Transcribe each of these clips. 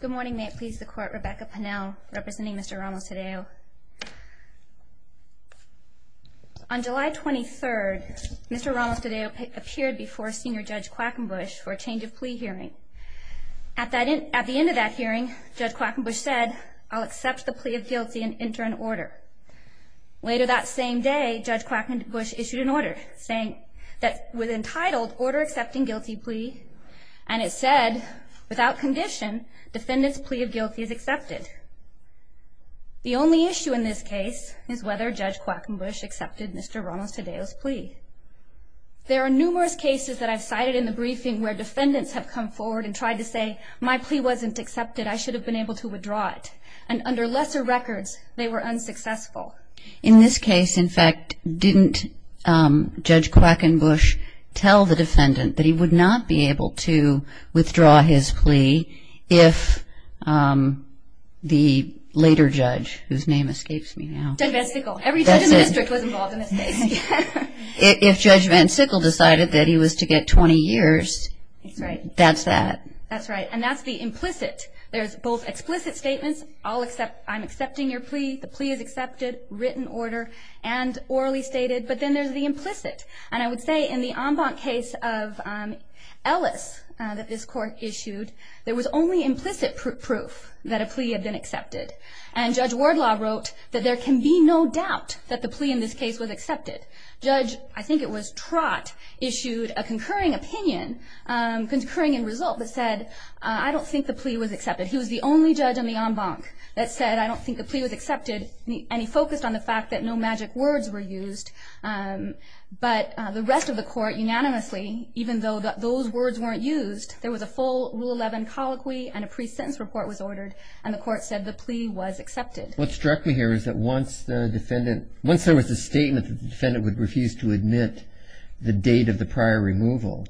Good morning, may it please the court, Rebecca Pennell, representing Mr. Ramos-Tadeo. On July 23rd, Mr. Ramos-Tadeo appeared before Senior Judge Quackenbush for a change of plea hearing. At the end of that hearing, Judge Quackenbush said, I'll accept the plea of guilty and enter an order. Later that same day, Judge Quackenbush issued an order saying that it was entitled Order Accepting Guilty Plea and it said, without condition, defendant's plea of guilty is accepted. The only issue in this case is whether Judge Quackenbush accepted Mr. Ramos-Tadeo's plea. There are numerous cases that I've cited in the briefing where defendants have come forward and tried to say, my plea wasn't accepted, I should have been able to withdraw it. And under lesser records, they were unsuccessful. In this case, in fact, didn't Judge Quackenbush tell the defendant that he would not be able to withdraw his plea if the later judge, whose name escapes me now. Judge Van Sickle. That's it. Every judge in the district was involved in this case. If Judge Van Sickle decided that he was to get 20 years, that's that. That's right. And that's the implicit. There's both explicit statements, I'm accepting your plea, the plea is accepted, written order, and orally stated, but then there's the implicit. And I would say in the Embank case of Ellis that this court issued, there was only implicit proof that a plea had been accepted. And Judge Wardlaw wrote that there can be no doubt that the plea in this case was accepted. Judge, I think it was Trott, issued a concurring opinion, concurring in result that said, I don't think the plea was accepted. He was the only judge in the Embank that said, I don't think the plea was accepted, and he focused on the fact that no magic words were used. But the rest of the court unanimously, even though those words weren't used, there was a full Rule 11 colloquy and a pre-sentence report was ordered, and the court said the plea was accepted. What struck me here is that once the defendant, once there was a statement that the defendant would refuse to admit the date of the prior removal,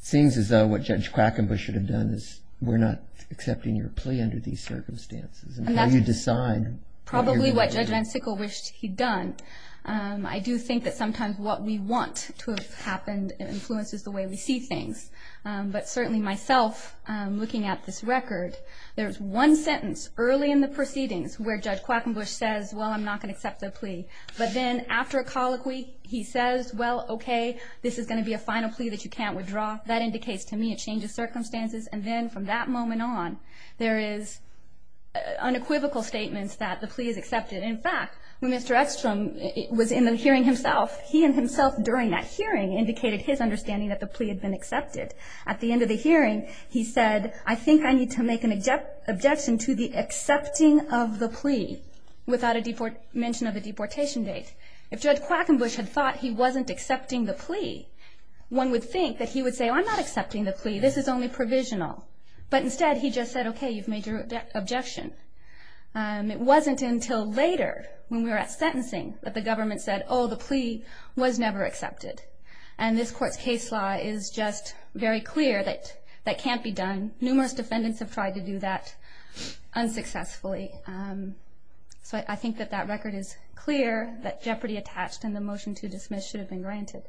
it seems as though what Judge Quackenbush should have done is, we're not accepting your plea under these circumstances. And how you decide. Probably what Judge Van Sickle wished he'd done. I do think that sometimes what we want to have happened influences the way we see things. But certainly myself, looking at this record, there's one sentence early in the proceedings where Judge Quackenbush says, well, I'm not going to accept the plea. But then after a colloquy, he says, well, okay, this is going to be a final plea that you can't withdraw. That indicates to me it changes circumstances. And then from that moment on, there is unequivocal statements that the plea is accepted. In fact, when Mr. Eckstrom was in the hearing himself, he and himself during that hearing indicated his understanding that the plea had been accepted. At the end of the hearing, he said, I think I need to make an objection to the accepting of the plea without a mention of the deportation date. If Judge Quackenbush had thought he wasn't accepting the plea, one would think that he would say, well, I'm not accepting the plea. This is only provisional. But instead, he just said, okay, you've made your objection. It wasn't until later when we were at sentencing that the government said, oh, the plea was never accepted. And this Court's case law is just very clear that that can't be done. Numerous defendants have tried to do that unsuccessfully. So I think that that record is clear that jeopardy attached and the motion to dismiss should have been granted.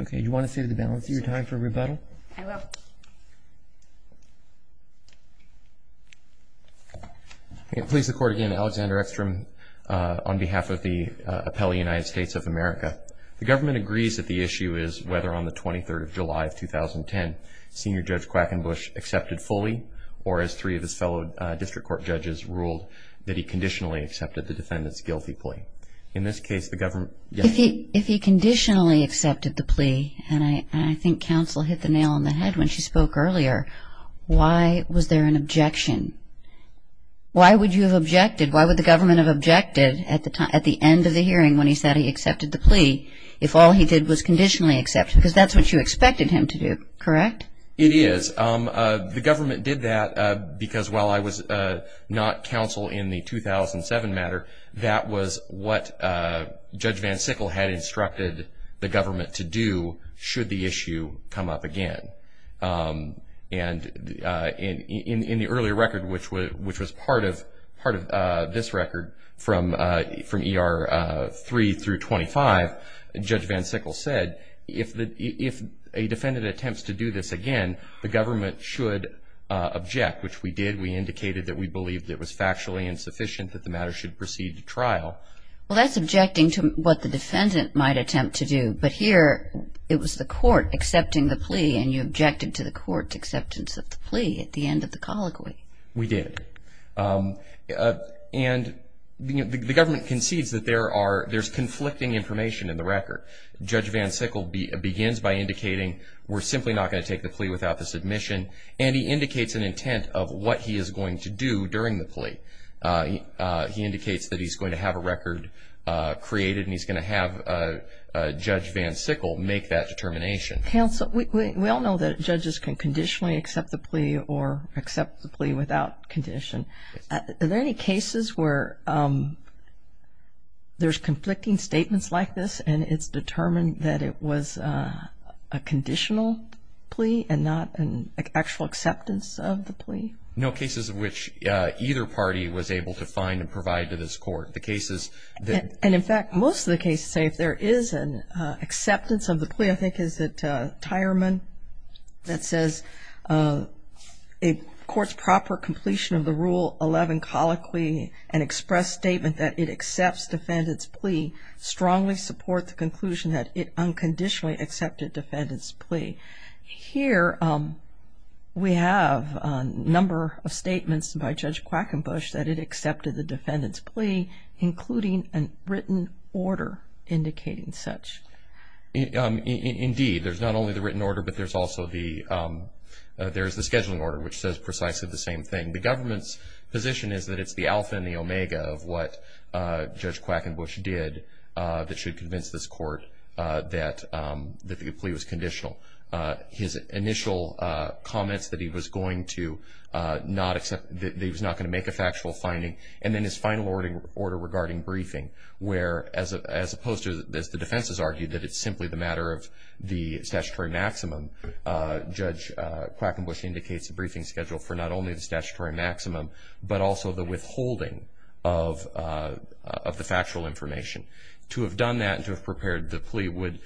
Okay. Do you want to save the balance of your time for rebuttal? I will. Please, the Court again. Alexander Eckstrom on behalf of the appellee, United States of America. The government agrees that the issue is whether on the 23rd of July of 2010, Senior Judge Quackenbush accepted fully, or as three of his fellow district court judges ruled, that he conditionally accepted the defendant's guilty plea. In this case, the government. If he conditionally accepted the plea, and I think counsel hit the nail on the head when she spoke earlier, why was there an objection? Why would you have objected? Why would the government have objected at the end of the hearing when he said he accepted the plea if all he did was conditionally accept? Because that's what you expected him to do, correct? It is. The government did that because while I was not counsel in the 2007 matter, that was what Judge Van Sickle had instructed the government to do should the issue come up again. And in the earlier record, which was part of this record from ER 3 through 25, Judge Van Sickle said if a defendant attempts to do this again, the government should object, which we did. We indicated that we believed it was factually insufficient that the matter should proceed to trial. Well, that's objecting to what the defendant might attempt to do. But here it was the court accepting the plea, and you objected to the court's acceptance of the plea at the end of the colloquy. We did. And the government concedes that there's conflicting information in the record. Judge Van Sickle begins by indicating we're simply not going to take the plea without the submission, and he indicates an intent of what he is going to do during the plea. He indicates that he's going to have a record created, and he's going to have Judge Van Sickle make that determination. I'm going to ask you a question about the plea or accept the plea without condition. Are there any cases where there's conflicting statements like this and it's determined that it was a conditional plea and not an actual acceptance of the plea? No cases in which either party was able to find and provide to this court. The cases that we've heard. And, in fact, most of the cases say if there is an acceptance of the plea, I think is that Tyerman that says a court's proper completion of the Rule 11 colloquy and express statement that it accepts defendant's plea strongly support the conclusion that it unconditionally accepted defendant's plea. Here we have a number of statements by Judge Quackenbush that it accepted the defendant's plea, including a written order indicating such. Indeed. There's not only the written order, but there's also the scheduling order, which says precisely the same thing. The government's position is that it's the alpha and the omega of what Judge Quackenbush did that should convince this court that the plea was conditional. His initial comments that he was not going to make a factual finding, and then his final order regarding briefing, where as opposed to as the defense has argued that it's simply the matter of the statutory maximum, Judge Quackenbush indicates a briefing schedule for not only the statutory maximum, but also the withholding of the factual information. To have done that and to have prepared the plea would,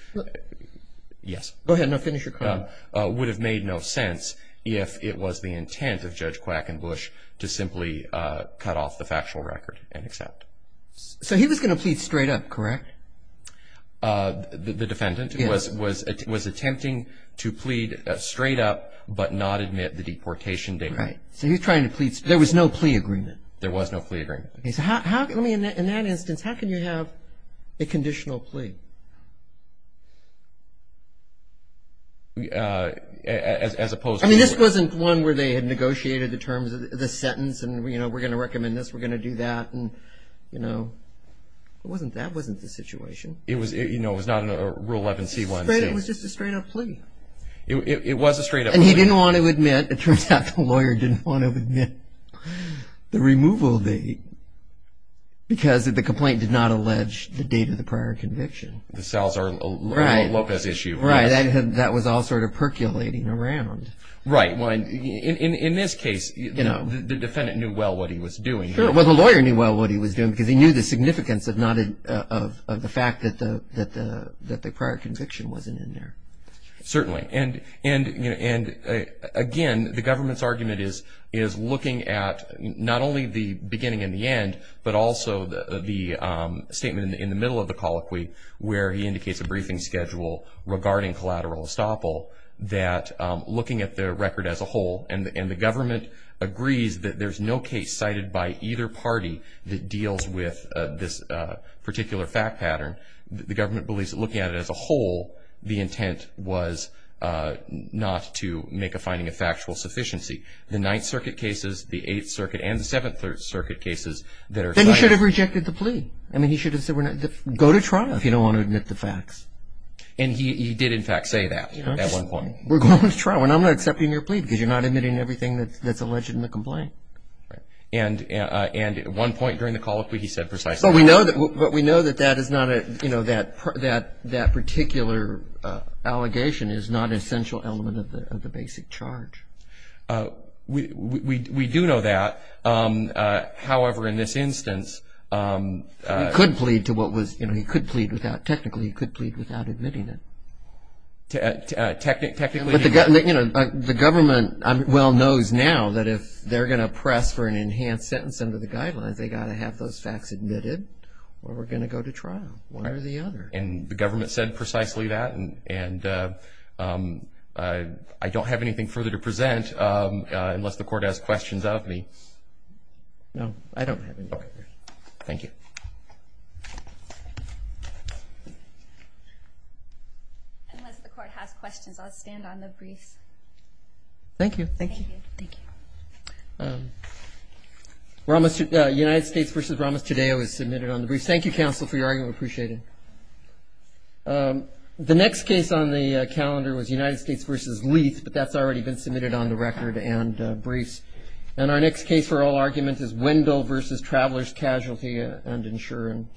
yes. Go ahead. No, finish your comment. It would have made no sense if it was the intent of Judge Quackenbush to simply cut off the factual record and accept. So he was going to plead straight up, correct? The defendant was attempting to plead straight up, but not admit the deportation date. Right. So he's trying to plead straight up. There was no plea agreement. There was no plea agreement. In that instance, how can you have a conditional plea? As opposed to. I mean, this wasn't one where they had negotiated the terms of the sentence and, you know, we're going to recommend this, we're going to do that, and, you know. That wasn't the situation. You know, it was not a Rule 11C1. It was just a straight up plea. It was a straight up plea. And he didn't want to admit. It turns out the lawyer didn't want to admit the removal date because the complaint did not allege the date of the prior conviction. The Salazar-Lopez issue. Right. That was all sort of percolating around. Right. In this case, you know, the defendant knew well what he was doing. Sure. Well, the lawyer knew well what he was doing because he knew the significance of the fact that the prior conviction wasn't in there. Certainly. Right. And, again, the government's argument is looking at not only the beginning and the end, but also the statement in the middle of the colloquy where he indicates a briefing schedule regarding collateral estoppel, that looking at the record as a whole, and the government agrees that there's no case cited by either party that deals with this particular fact pattern, the government believes that looking at it as a whole, the intent was not to make a finding of factual sufficiency. The Ninth Circuit cases, the Eighth Circuit, and the Seventh Circuit cases that are cited. Then he should have rejected the plea. I mean, he should have said, go to trial if you don't want to admit the facts. And he did, in fact, say that at one point. We're going to trial. And I'm not accepting your plea because you're not admitting everything that's alleged in the complaint. Right. And at one point during the colloquy, he said precisely that. But we know that that particular allegation is not an essential element of the basic charge. We do know that. However, in this instance. He could plead to what was, you know, he could plead without, technically he could plead without admitting it. Technically. The government well knows now that if they're going to press for an enhanced sentence under the guidelines, they've got to have those facts admitted or we're going to go to trial. One or the other. And the government said precisely that. And I don't have anything further to present unless the Court has questions of me. No, I don't have anything. Okay. Thank you. Unless the Court has questions, I'll stand on the briefs. Thank you. Thank you. Okay. Thank you. United States v. Ramos-Tadeo is submitted on the briefs. Thank you, counsel, for your argument. We appreciate it. The next case on the calendar was United States v. Leith, but that's already been submitted on the record and briefs. And our next case for oral argument is Wendell v. Traveler's Casualty and Insurance Company.